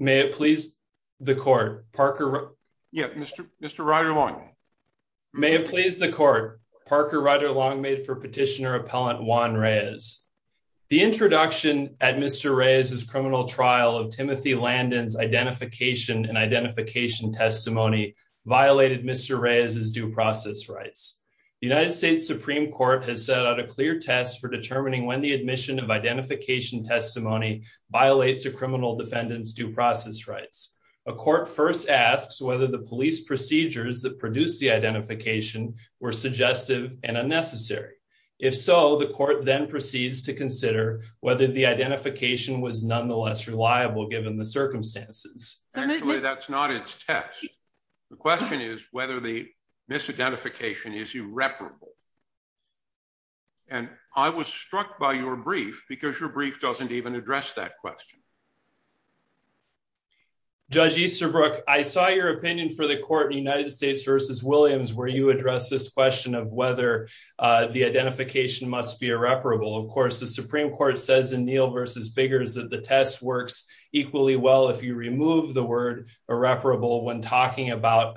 May it please the court, Mr. Ryder Long made for Petitioner Appellant Juan Reyes. The introduction at Mr. Reyes' criminal trial of Timothy Landon's identification and identification testimony violated Mr. Reyes' due process rights. The United States Supreme Court has set out a clear test for determining when the admission of identification testimony violates a criminal defendant's due process rights. A court first asks whether the police procedures that produced the identification were suggestive and unnecessary. If so, the court then proceeds to consider whether the identification was nonetheless reliable given the circumstances. Actually, that's not its test. The question is whether the misidentification is irreparable. And I was struck by your brief because your brief doesn't even address that question. Judge Easterbrook, I saw your opinion for the court in United States v. Williams where you address this question of whether the identification must be irreparable. Of course, the Supreme Court says in Neal v. Biggers that the test works equally well if you remove the word irreparable when talking about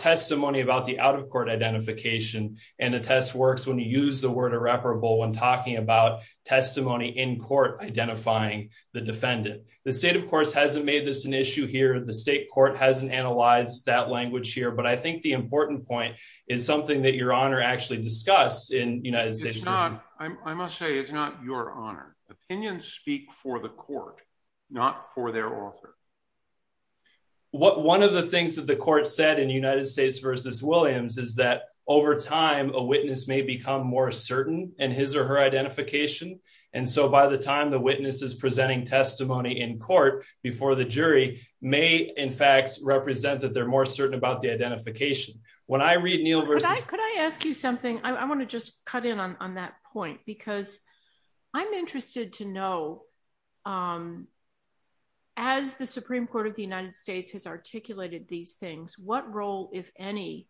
testimony about the out-of-court identification. And the test works when you use the word irreparable when talking about testimony in court identifying the defendant. The state, of course, hasn't made this an issue here. The state court hasn't analyzed that language here. But I think the important point is something that Your Honor actually discussed in United States v.— I must say, it's not Your Honor. Opinions speak for the court, not for their author. One of the things that the court said in United States v. Williams is that over time, a witness may become more certain in his or her identification. And so by the time the witness is presenting testimony in court before the jury may in fact represent that they're more certain about the identification. When I read Neal v.— Could I ask you something? I want to just cut in on that point because I'm interested to know, as the Supreme Court of the United States has articulated these things, what role, if any,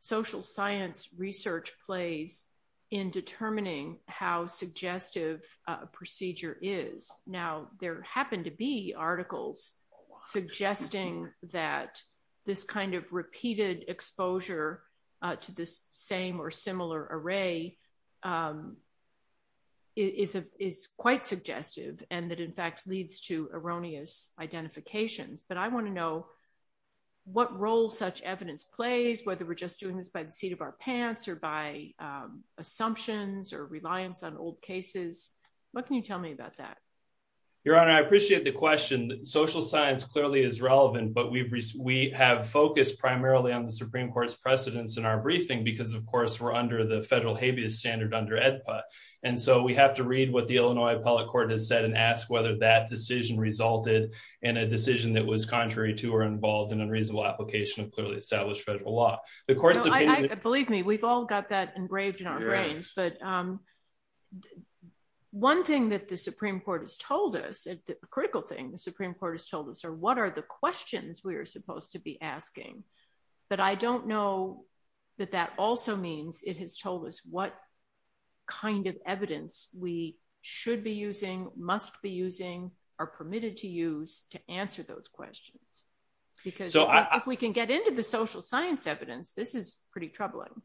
social science research plays in determining how suggestive a procedure is? Now there happen to be articles suggesting that this kind of repeated exposure to this same or similar array is quite suggestive and that in fact leads to erroneous identifications. But I want to know what role such evidence plays, whether we're just doing this by the seat of our pants or by assumptions or reliance on old cases. What can you tell me about that? Your Honor, I appreciate the question. Social science clearly is relevant, but we have focused primarily on the Supreme Court's briefings because, of course, we're under the federal habeas standard under AEDPA. And so we have to read what the Illinois Appellate Court has said and ask whether that decision resulted in a decision that was contrary to or involved in unreasonable application of clearly established federal law. The court's opinion— Believe me, we've all got that engraved in our brains, but one thing that the Supreme Court has told us, a critical thing the Supreme Court has told us, are what are the questions we are supposed to be asking? But I don't know that that also means it has told us what kind of evidence we should be using, must be using, are permitted to use to answer those questions. Because if we can get into the social science evidence, this is pretty troubling.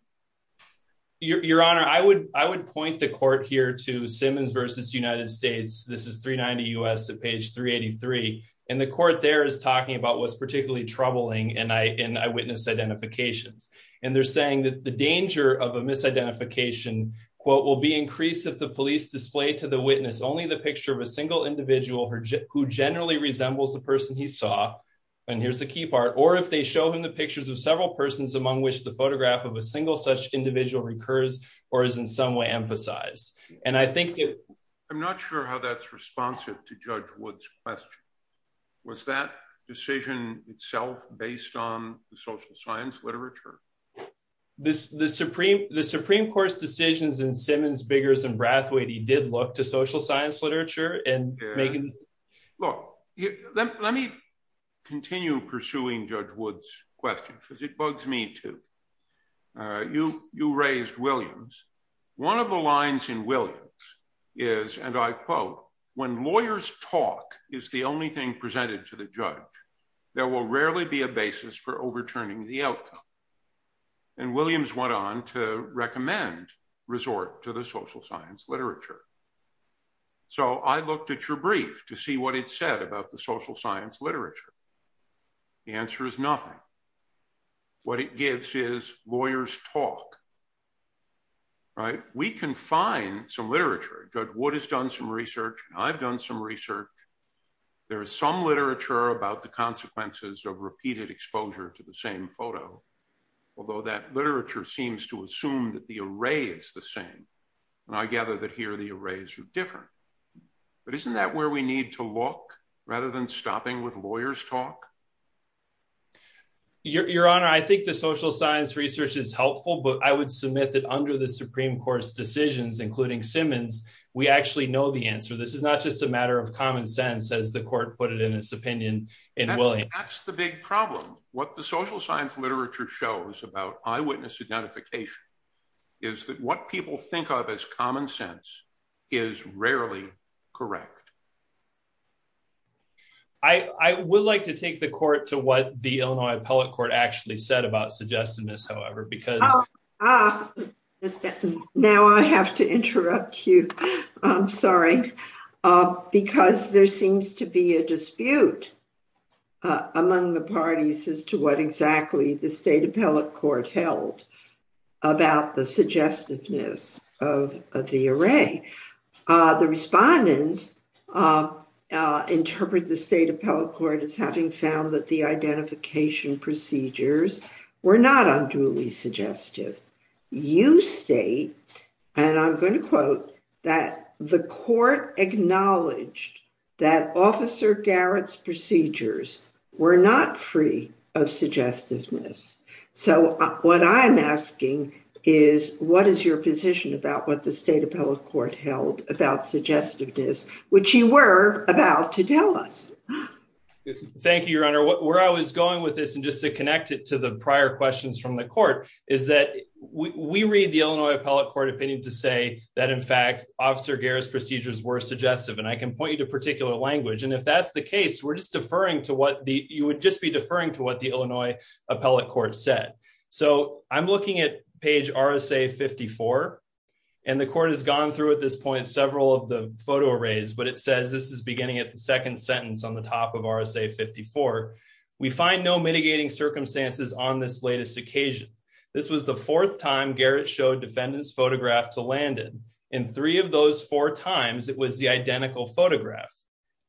Your Honor, I would point the court here to Simmons v. United States. This is 390 U.S. at page 383. And the court there is talking about what's particularly troubling in eyewitness identifications. And they're saying that the danger of a misidentification, quote, will be increased if the police display to the witness only the picture of a single individual who generally resembles the person he saw—and here's the key part—or if they show him the pictures of several persons among which the photograph of a single such individual recurs or is in some way emphasized. And I think that— Was that decision itself based on the social science literature? The Supreme Court's decisions in Simmons, Biggers, and Brathwaite, he did look to social science literature and make— Look, let me continue pursuing Judge Wood's question because it bugs me too. You raised Williams. One of the lines in Williams is, and I quote, when lawyers talk is the only thing presented to the judge, there will rarely be a basis for overturning the outcome. And Williams went on to recommend resort to the social science literature. So I looked at your brief to see what it said about the social science literature. The answer is nothing. What it gives is lawyers talk, right? We can find some literature. Judge Wood has done some research. I've done some research. There is some literature about the consequences of repeated exposure to the same photo, although that literature seems to assume that the array is the same. And I gather that here the arrays are different. But isn't that where we need to look rather than stopping with lawyers talk? Your Honor, I think the social science research is helpful, but I would submit that under the Supreme Court's decisions, including Simmons, we actually know the answer. This is not just a matter of common sense, as the court put it in its opinion in Williams. That's the big problem. What the social science literature shows about eyewitness identification is that what people think of as common sense is rarely correct. I would like to take the court to what the Illinois Appellate Court actually said about suggestiveness, however, because... Oh, now I have to interrupt you. I'm sorry, because there seems to be a dispute among the parties as to what exactly the State Appellate Court held about the suggestiveness of the array. The respondents interpret the State Appellate Court as having found that the identification procedures were not unduly suggestive. You state, and I'm going to quote, that the court acknowledged that Officer Garrett's procedures were not free of suggestiveness. So what I'm asking is, what is your position about what the State Appellate Court held about suggestiveness, which you were about to tell us? Thank you, Your Honor. Where I was going with this, and just to connect it to the prior questions from the court, is that we read the Illinois Appellate Court opinion to say that, in fact, Officer Garrett's procedures were suggestive. And I can point you to particular language. And if that's the case, we're just deferring to what the... So I'm looking at page RSA 54. And the court has gone through, at this point, several of the photo arrays. But it says, this is beginning at the second sentence on the top of RSA 54. We find no mitigating circumstances on this latest occasion. This was the fourth time Garrett showed defendant's photograph to Landon. In three of those four times, it was the identical photograph.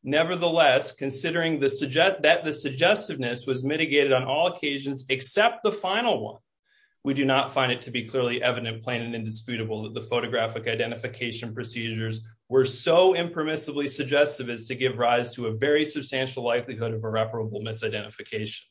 Nevertheless, considering that the suggestiveness was mitigated on all occasions except the final one, we do not find it to be clearly evident, plain and indisputable, that the photographic identification procedures were so impermissibly suggestive as to give rise to a very substantial likelihood of irreparable misidentification.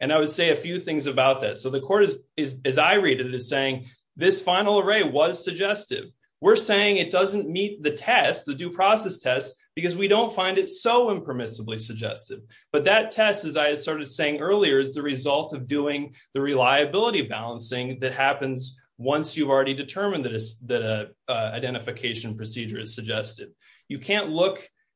And I would say a few things about that. So the court, as I read it, is saying, this final array was suggestive. We're saying it doesn't meet the test, the due process test, because we don't find it so impermissibly suggestive. But that test, as I started saying earlier, is the result of doing the reliability balancing that happens once you've already determined that an identification procedure is suggestive.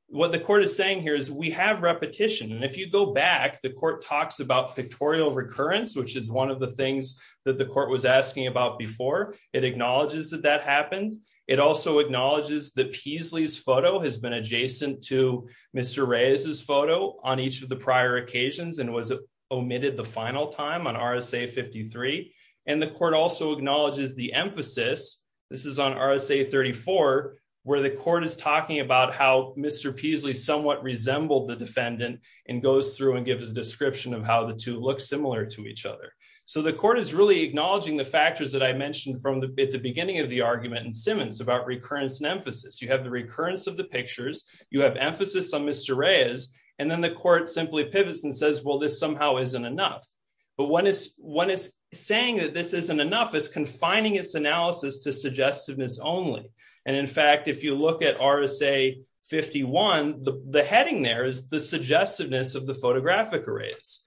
What the court is saying here is, we have repetition. And if you go back, the court talks about pictorial recurrence, which is one of the things that the court was asking about before. It acknowledges that that happened. It also acknowledges that Peasley's photo has been adjacent to Mr. Reyes's photo on each of the prior occasions and was omitted the final time on RSA 53. And the court also acknowledges the emphasis, this is on RSA 34, where the court is talking about how Mr. Peasley somewhat resembled the defendant and goes through and gives a description of how the two look similar to each other. So the court is really acknowledging the factors that I mentioned from the beginning of the argument in Simmons about recurrence and emphasis. You have the recurrence of the pictures. You have emphasis on Mr. Reyes. And then the court simply pivots and says, well, this somehow isn't enough. But when it's saying that this isn't enough, it's confining its analysis to suggestiveness only. And in fact, if you look at RSA 51, the heading there is the suggestiveness of the photographic arrays.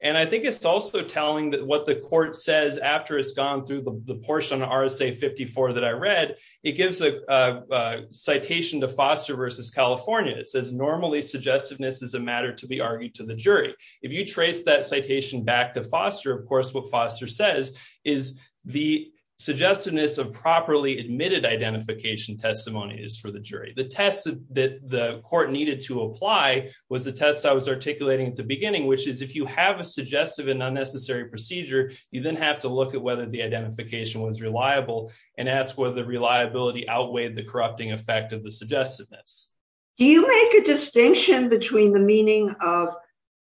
And I think it's also telling that what the court says after it's gone through the portion on RSA 54 that I read, it gives a citation to Foster versus California. It says normally suggestiveness is a matter to be argued to the jury. If you trace that citation back to Foster, of course, what Foster says is the suggestiveness of properly admitted identification testimony is for the jury. The test that the court needed to apply was the test I was articulating at the beginning, which is if you have a suggestive and unnecessary procedure, you then have to look at whether the identification was reliable and ask whether the reliability outweighed the corrupting effect of the suggestiveness. Do you make a distinction between the meaning of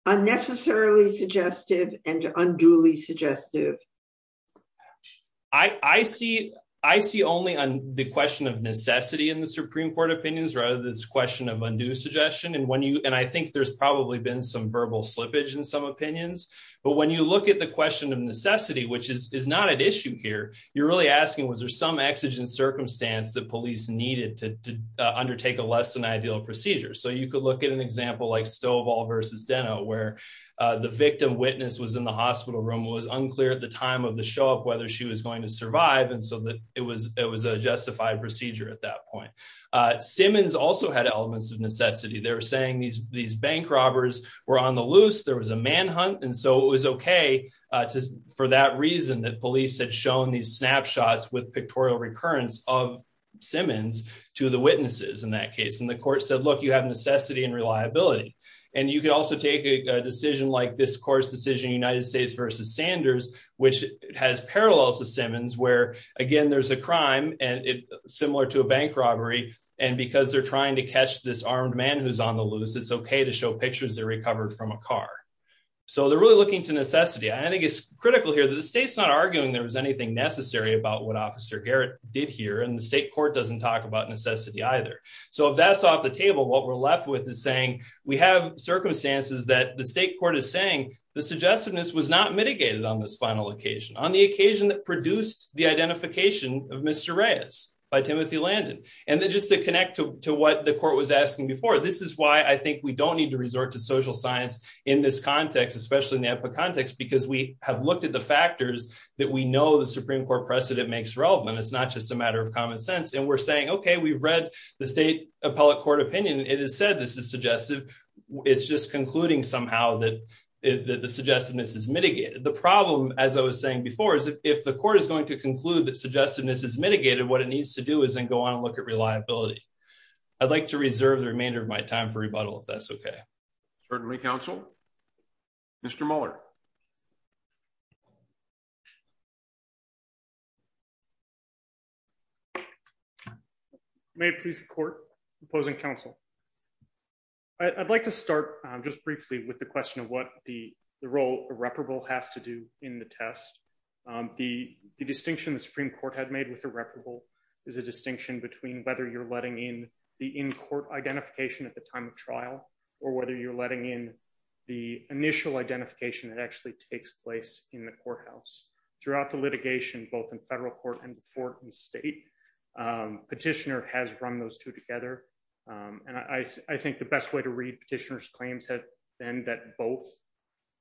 unnecessarily suggestive and unduly suggestive? I see only on the question of necessity in the Supreme Court opinions, rather than this question of undue suggestion. And I think there's probably been some verbal slippage in some opinions. But when you look at the question of necessity, which is not at issue here, you're really asking, was there some exigent circumstance that police needed to undertake a less than ideal procedure? So you could look at an example like Stovall versus Denno, where the victim witness was in the hospital room. It was unclear at the time of the show up whether she was going to survive. And so it was a justified procedure at that point. Simmons also had elements of necessity. They were saying these bank robbers were on the loose. There was a manhunt. And so it was OK for that reason that police had shown these snapshots with pictorial recurrence of Simmons to the witnesses in that case. And the court said, look, you have necessity and reliability. And you could also take a decision like this court's decision, United States versus Sanders, which has parallels to Simmons, where, again, there's a crime similar to a bank robbery. And because they're trying to catch this armed man who's on the loose, it's OK to show pictures they recovered from a car. So they're really looking to necessity. I think it's critical here that the state's not arguing there was anything necessary about what Officer Garrett did here. And the state court doesn't talk about necessity either. So if that's off the table, what we're left with is saying we have circumstances that the state court is saying the suggestiveness was not mitigated on this final occasion, on the occasion that produced the identification of Mr. Reyes by Timothy Landon. And then just to connect to what the court was asking before, this is why I think we don't need to resort to social science in this context, especially in the epicontext, because we have looked at the factors that we know the Supreme Court precedent makes relevant. It's not just a matter of common sense. And we're saying, OK, we've read the state appellate court opinion. It is said this is suggestive. It's just concluding somehow that the suggestiveness is mitigated. The problem, as I was saying before, is if the court is going to conclude that suggestiveness is mitigated, what it needs to do is then go on and look at reliability. I'd like to reserve the remainder of my time for rebuttal, if that's OK. Certainly, counsel. Mr. Mueller. May it please the court, opposing counsel. I'd like to start just briefly with the question of what the role irreparable has to do in the test. The distinction the Supreme Court had made with irreparable is a distinction between whether you're letting in the in-court identification at the time of trial or whether you're letting in the initial identification that actually takes place in the courthouse. Throughout the litigation, both in federal court and before in state, petitioner has run those two together. And I think the best way to read petitioner's claims have been that both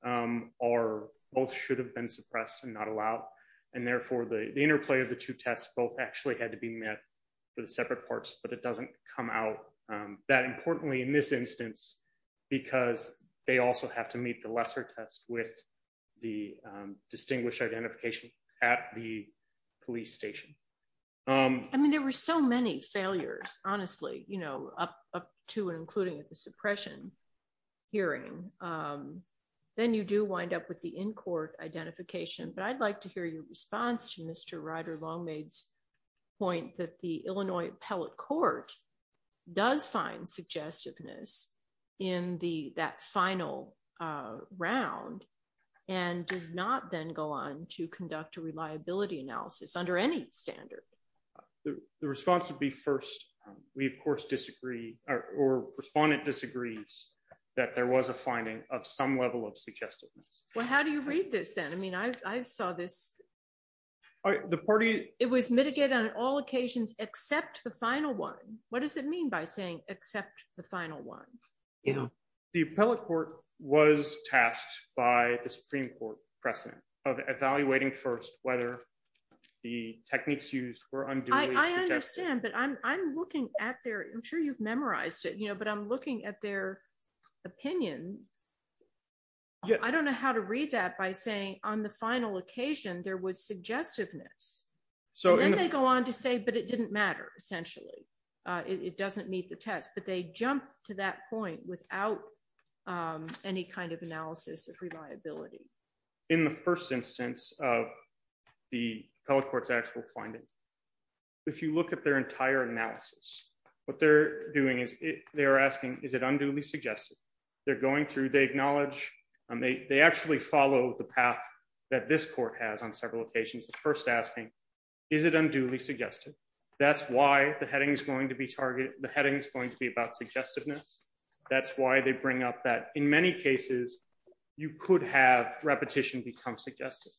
are both should have been suppressed and not allowed. And therefore, the interplay of the two tests both actually had to be met with separate parts. But it doesn't come out that importantly in this instance, because they also have to meet the lesser test with the distinguished identification at the police station. I mean, there were so many failures, honestly, up to and including the suppression hearing. Then you do wind up with the in-court identification. But I'd like to hear your response to Mr. Ryder Longmade's point that the Appellate Court does find suggestiveness in that final round and does not then go on to conduct a reliability analysis under any standard. The response would be first, we, of course, disagree or respondent disagrees that there was a finding of some level of suggestiveness. Well, how do you read this then? I mean, I saw this. All right, the party. It was mitigated on all occasions except the final one. What does it mean by saying except the final one? The Appellate Court was tasked by the Supreme Court precedent of evaluating first whether the techniques used were unduly suggested. I understand, but I'm looking at their I'm sure you've memorized it, but I'm looking at their opinion. Yeah, I don't know how to read that by saying on the final occasion, there was suggestiveness. So then they go on to say, but it didn't matter. Essentially, it doesn't meet the test. But they jump to that point without any kind of analysis of reliability. In the first instance of the Appellate Court's actual finding, if you look at their entire analysis, what they're doing is they're asking, is it unduly suggested? They're going through, they acknowledge, and they actually follow the path that this court has on several occasions. The first asking, is it unduly suggested? That's why the heading is going to be targeted. The heading is going to be about suggestiveness. That's why they bring up that in many cases, you could have repetition become suggestive.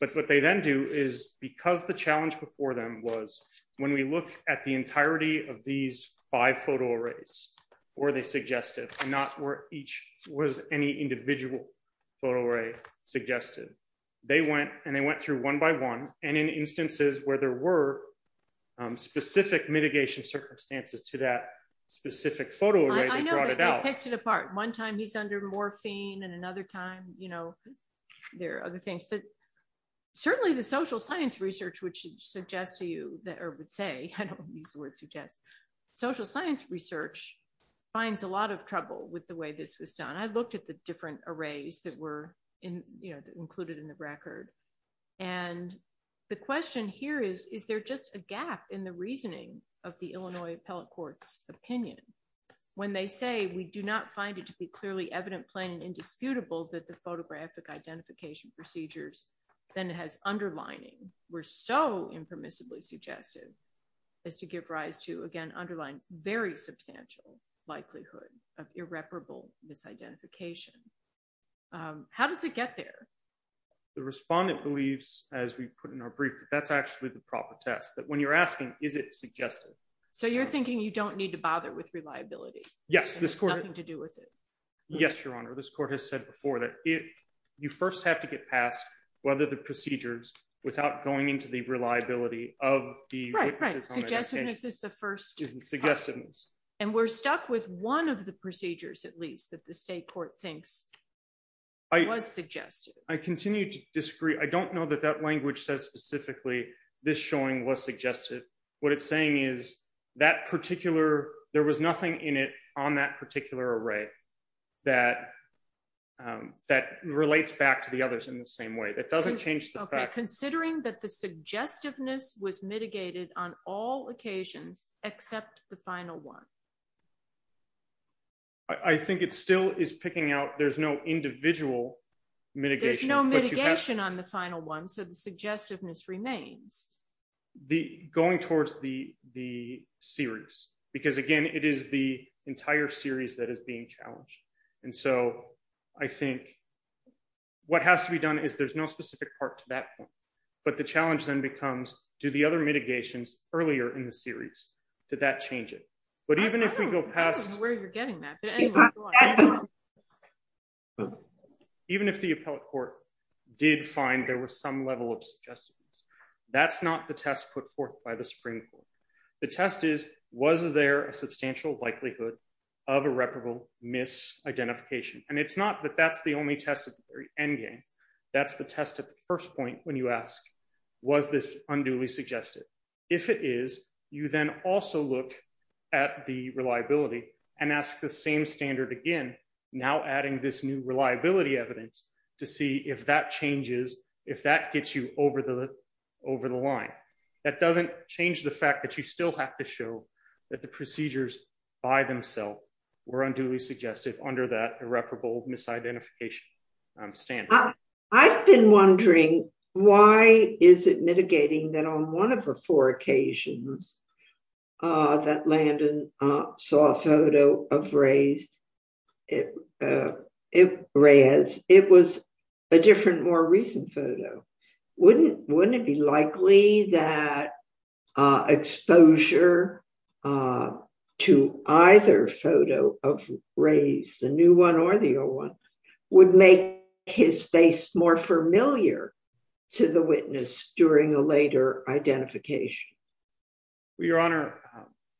But what they then do is because the challenge before them was when we look at the entirety of these five photo arrays, were they suggestive? Not where each was any individual photo array suggested. They went and they went through one by one. And in instances where there were specific mitigation circumstances to that specific photo array, they brought it out. I know that they picked it apart. One time he's under morphine and another time, there are other things. But certainly the social science research, which suggests to you, or would say, these words suggest, social science research finds a lot of trouble with the way this was done. I looked at the different arrays that were included in the record. And the question here is, is there just a gap in the reasoning of the Illinois appellate court's opinion when they say we do not find it to be clearly evident, plain, and indisputable that the photographic identification procedures then has underlining were so impermissibly suggestive as to give rise to, again, underlying very substantial likelihood of irreparable misidentification. How does it get there? The respondent believes, as we put in our brief, that that's actually the proper test, that when you're asking, is it suggestive? So you're thinking you don't need to bother with reliability. Yes. This has nothing to do with it. Yes, Your Honor. This court has said before that you first have to get past whether the procedures without going into the reliability of the appellate system is suggestiveness. And we're stuck with one of the procedures, at least, that the state court thinks was suggestive. I continue to disagree. I don't know that that language says specifically this showing was suggestive. What it's saying is there was nothing in it on that particular array that relates back to the others in the same way. That doesn't change the fact. Considering that the suggestiveness was mitigated on all occasions except the final one. I think it still is picking out there's no individual mitigation. There's no mitigation on the final one. So the suggestiveness remains. Going towards the series. Because, again, it is the entire series that is being challenged. And so I think what has to be done is there's no specific part to that point. But the challenge then becomes, do the other mitigations earlier in the series, did that change it? But even if we go past where you're getting that. Even if the appellate court did find there was some level of suggestiveness, that's not the test put forth by the Supreme Court. The test is, was there a substantial likelihood of irreparable misidentification? And it's not that that's the only test at the very endgame. That's the test at the first point when you ask, was this unduly suggestive? If it is, you then also look at the reliability and ask the same standard again, now adding this new reliability evidence to see if that changes, if that gets you over the line. That doesn't change the fact that you still have to show that the procedures by themselves were unduly suggestive under that irreparable misidentification standard. I've been wondering, why is it mitigating that on one of the four occasions that Landon saw a photo of Ray's, it was a different, more recent photo. Wouldn't it be likely that exposure to either photo of Ray's, the new one or the old one, would make his face more familiar to the witness during a later identification? Your Honor,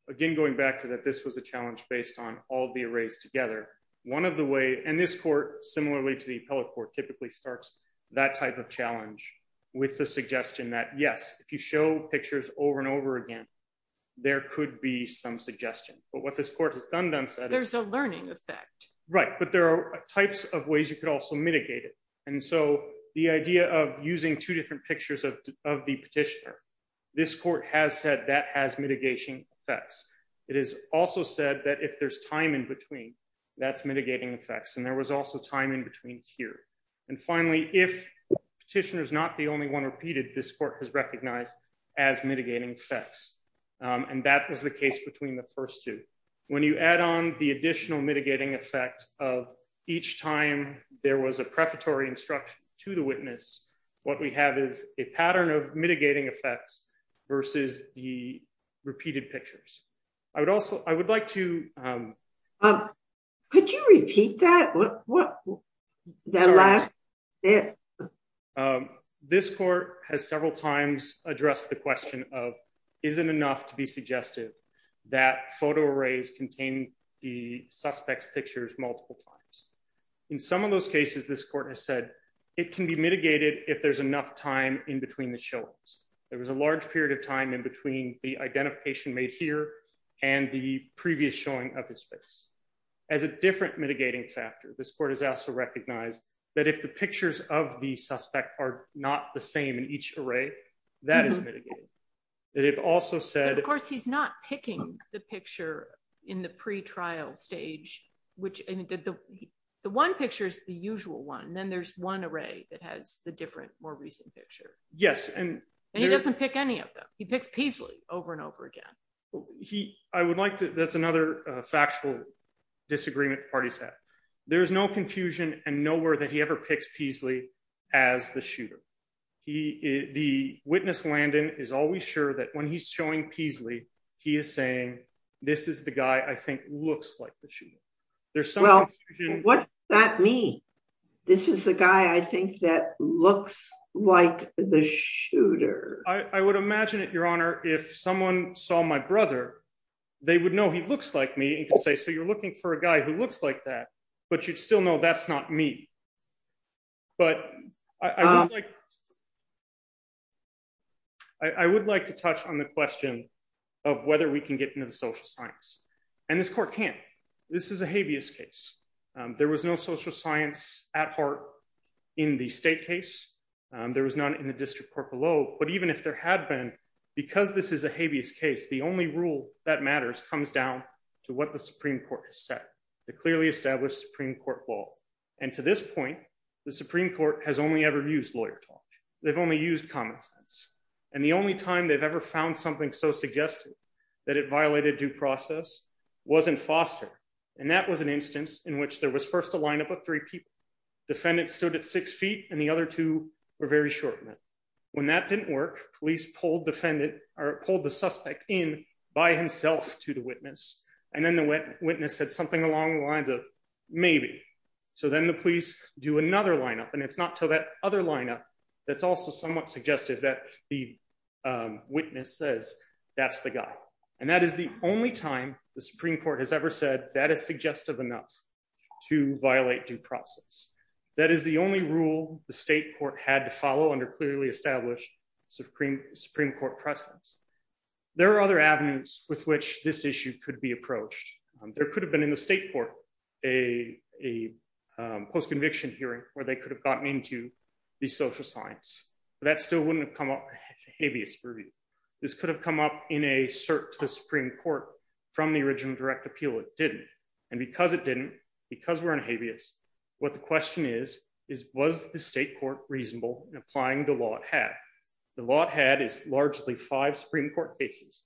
again, going back to that, this was a challenge based on all the arrays together. One of the way, and this court, similarly to the appellate court, typically starts that type of challenge with the suggestion that, yes, if you show pictures over and over again, there could be some suggestion. But what this court has done then said- There's a learning effect. Right. But there are types of ways you could also mitigate it. And so the idea of using two different pictures of the petitioner, this court has said that has mitigation effects. It is also said that if there's time in between, that's mitigating effects. And there was also time in between here. And finally, if petitioner is not the only one repeated, this court has recognized as mitigating effects. And that was the case between the first two. When you add on the additional mitigating effect of each time there was a prefatory instruction to the witness, what we have is a pattern of mitigating effects versus the repeated pictures. I would like to- Could you repeat that? This court has several times addressed the question of isn't enough to be suggestive that photo arrays contain the suspect's pictures multiple times. In some of those cases, this court has said it can be mitigated if there's enough time in between the showings. There was a large period of time in between the identification made here and the previous showing of his face. As a different mitigating factor, this court has also recognized that if the pictures of the suspect are not the same in each array, that is mitigated. And it also said- Of course, he's not picking the picture in the pre-trial stage. The one picture is the usual one. Then there's one array that has the different more recent picture. Yes. And- And he doesn't pick any of them. He picks Peasley over and over again. He- I would like to- That's another factual disagreement the parties have. There is no confusion and nowhere that he ever picks Peasley as the shooter. He- The witness Landon is always sure that when he's showing Peasley, he is saying, this is the guy I think looks like the shooter. There's some- Well, what does that mean? This is the guy I think that the shooter- I would imagine it, Your Honor, if someone saw my brother, they would know he looks like me and can say, so you're looking for a guy who looks like that, but you'd still know that's not me. But I would like- I would like to touch on the question of whether we can get into the social science. And this court can't. This is a habeas case. There was no social science at heart in the state case. There was none in the district court below. But even if there had been, because this is a habeas case, the only rule that matters comes down to what the Supreme Court has said. The clearly established Supreme Court law. And to this point, the Supreme Court has only ever used lawyer talk. They've only used common sense. And the only time they've ever found something so suggested that it violated due process wasn't Foster. And that was an instance in which there was first a lineup of three people. Defendants stood at six feet and the other two were very short. When that didn't work, police pulled defendant or pulled the suspect in by himself to the witness. And then the witness said something along the lines of maybe. So then the police do another lineup. And it's not till that other lineup that's also somewhat suggested that the witness says that's the guy. And that is the only time the Supreme Court has ever said that suggestive enough to violate due process. That is the only rule the state court had to follow under clearly established Supreme Supreme Court precedents. There are other avenues with which this issue could be approached. There could have been in the state court a post conviction hearing where they could have gotten into the social science. That still wouldn't have come up. This could have come up in a search to Supreme Court from the original direct appeal. It didn't. And because it didn't, because we're in habeas, what the question is, is was the state court reasonable in applying the law? It had the law. It had is largely five Supreme Court cases,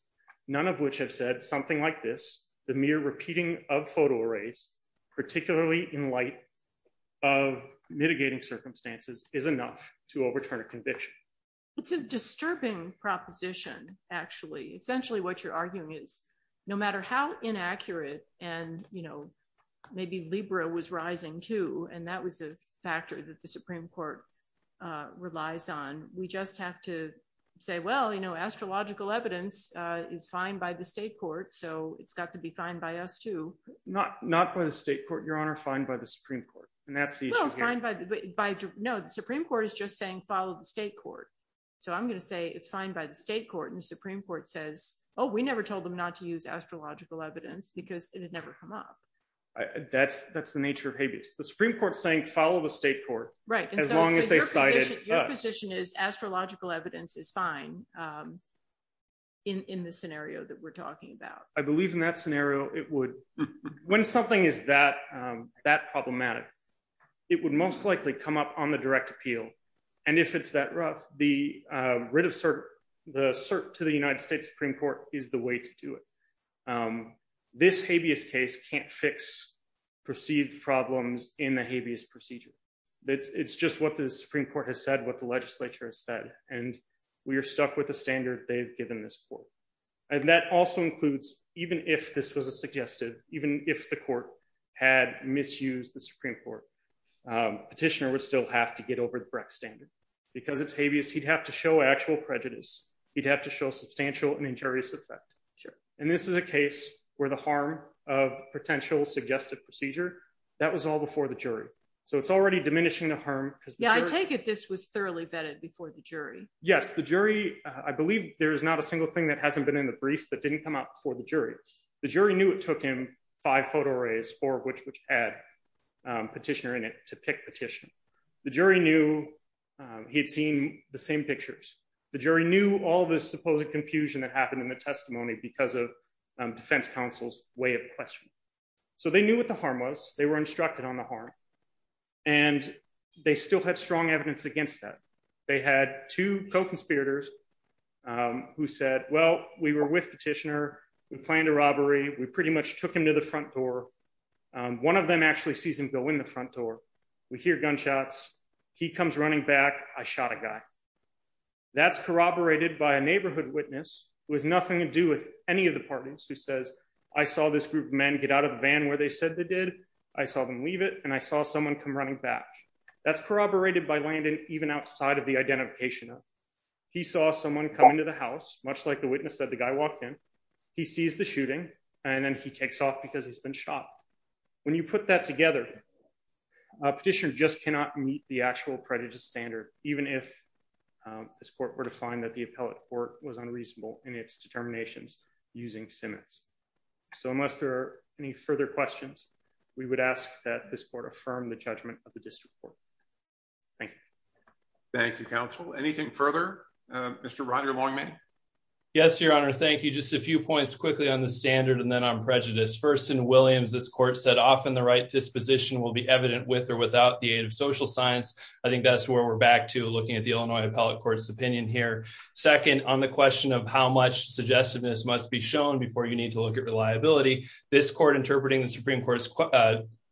none of which have said something like this. The mere repeating of photo arrays, particularly in light of mitigating circumstances, is enough to overturn a conviction. It's a disturbing proposition, actually. Essentially, what you're arguing is matter how inaccurate and, you know, maybe Libra was rising, too. And that was a factor that the Supreme Court relies on. We just have to say, well, you know, astrological evidence is fine by the state court. So it's got to be fine by us, too. Not not by the state court, Your Honor, fine by the Supreme Court. And that's fine. But by no, the Supreme Court is just saying, follow the state court. So I'm going to say it's fine by the state court and Supreme Court says, oh, we never told them not to use astrological evidence because it had never come up. That's that's the nature of habeas. The Supreme Court saying follow the state court. Right. As long as they cited your position is astrological evidence is fine. In the scenario that we're talking about, I believe in that scenario, it would when something is that that problematic, it would most likely come up on the direct appeal. And if it's that rough, the writ of cert, the cert to the United States Supreme Court is the way to do it. This habeas case can't fix perceived problems in the habeas procedure. It's just what the Supreme Court has said, what the legislature has said. And we are stuck with the standard they've given this court. And that also includes even if this was a suggested, even if the court had misused the Supreme Court, petitioner would still have to get over the standard because it's habeas. He'd have to show actual prejudice. He'd have to show substantial and injurious effect. Sure. And this is a case where the harm of potential suggestive procedure, that was all before the jury. So it's already diminishing the harm. Yeah, I take it. This was thoroughly vetted before the jury. Yes, the jury. I believe there is not a single thing that hasn't been in the briefs that didn't come up for the jury. The jury knew it took him five photo arrays, four of which had petitioner in it to pick petition. The jury knew he'd seen the same pictures. The jury knew all this supposed confusion that happened in the testimony because of defense counsel's way of question. So they knew what the harm was. They were instructed on the harm and they still had strong evidence against that. They had two co-conspirators who said, well, we were with petitioner. We planned a robbery. We pretty much took him to the front door. One of them actually sees him go in the front door. We hear gunshots. He comes running back. I shot a guy. That's corroborated by a neighborhood witness was nothing to do with any of the parties who says, I saw this group of men get out of the van where they said they did. I saw them leave it and I saw someone come running back. That's corroborated by Landon, even outside of the identification. He saw someone come into the house, much like the witness said the guy walked in. He sees the shooting and then he takes off because he's been shot. When you put that together, a petitioner just cannot meet the actual prejudice standard, even if this court were to find that the appellate court was unreasonable in its determinations using Simmons. So unless there are any further questions, we would ask that this court affirm the judgment of the district court. Thank you. Thank you, counsel. Anything further? Mr. Roger Longman. Yes, your honor. Thank you. Just a few points quickly on the standard and then on prejudice. First, in Williams, this court said, often the right disposition will be evident with or without the aid of social science. I think that's where we're back to looking at the Illinois appellate court's opinion here. Second, on the question of how much suggestiveness must be shown before you need to look at reliability, this court interpreting the Supreme Court's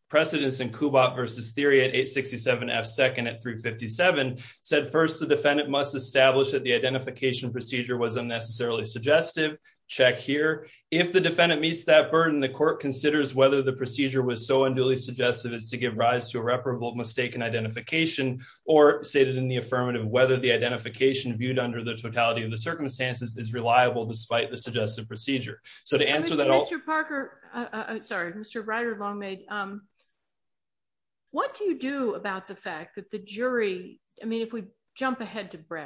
precedence in Kubat versus theory at 867 F second at 357 said, first, the defendant must establish that the identification procedure was unnecessarily suggestive. Check here. If the defendant meets that burden, the court considers whether the procedure was so unduly suggestive as to give rise to irreparable mistaken identification or stated in the affirmative, whether the identification viewed under the totality of the circumstances is reliable despite the suggestive procedure. So to answer that, Mr. Parker, sorry, Mr. Rider long made. What do you do about the fact that the jury, I mean, if we informed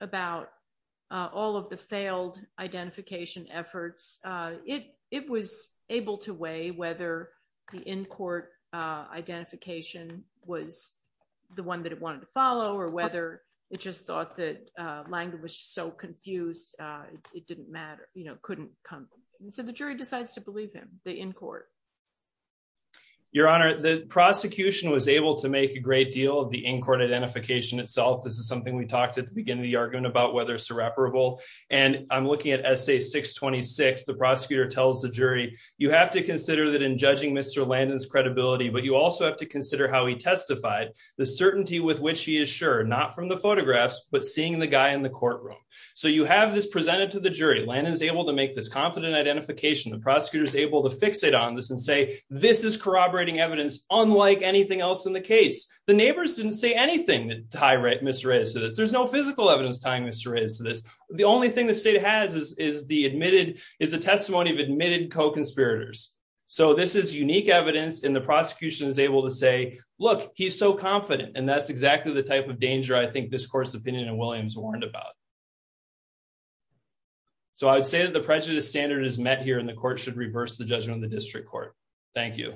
about all of the failed identification efforts, it, it was able to weigh whether the in-court identification was the one that it wanted to follow or whether it just thought that language so confused, it didn't matter, you know, couldn't come. And so the jury decides to believe him, the in-court. Your honor, the prosecution was able to make a great deal of the in-court identification itself. This is something we talked at the beginning of the argument about whether it's irreparable. And I'm looking at essay 626. The prosecutor tells the jury, you have to consider that in judging Mr. Landon's credibility, but you also have to consider how he testified the certainty with which he is sure not from the photographs, but seeing the guy in the courtroom. So you have this presented to the jury land is able to make this confident identification. The prosecutor is able to fix it on this and say, this is corroborating evidence. Unlike anything else in the case, the neighbors didn't say anything that tie right, Mr. Reyes to this. There's no physical evidence tying Mr. Reyes to this. The only thing the state has is, is the admitted is a testimony of admitted co-conspirators. So this is unique evidence in the prosecution is able to say, look, he's so confident. And that's exactly the type of danger. I think this court's opinion and Williams warned about. So I would say that the prejudice standard is met here in the court should reverse the judgment of the district court. Thank you.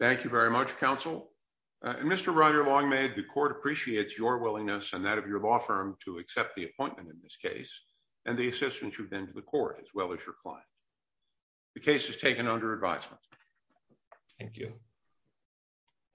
Thank you very much. Counsel and Mr. Ryder long made the court appreciates your willingness and that of your law firm to accept the appointment in this case and the assistance you've been to the court as well as your client. The case has taken under advisement. Thank you.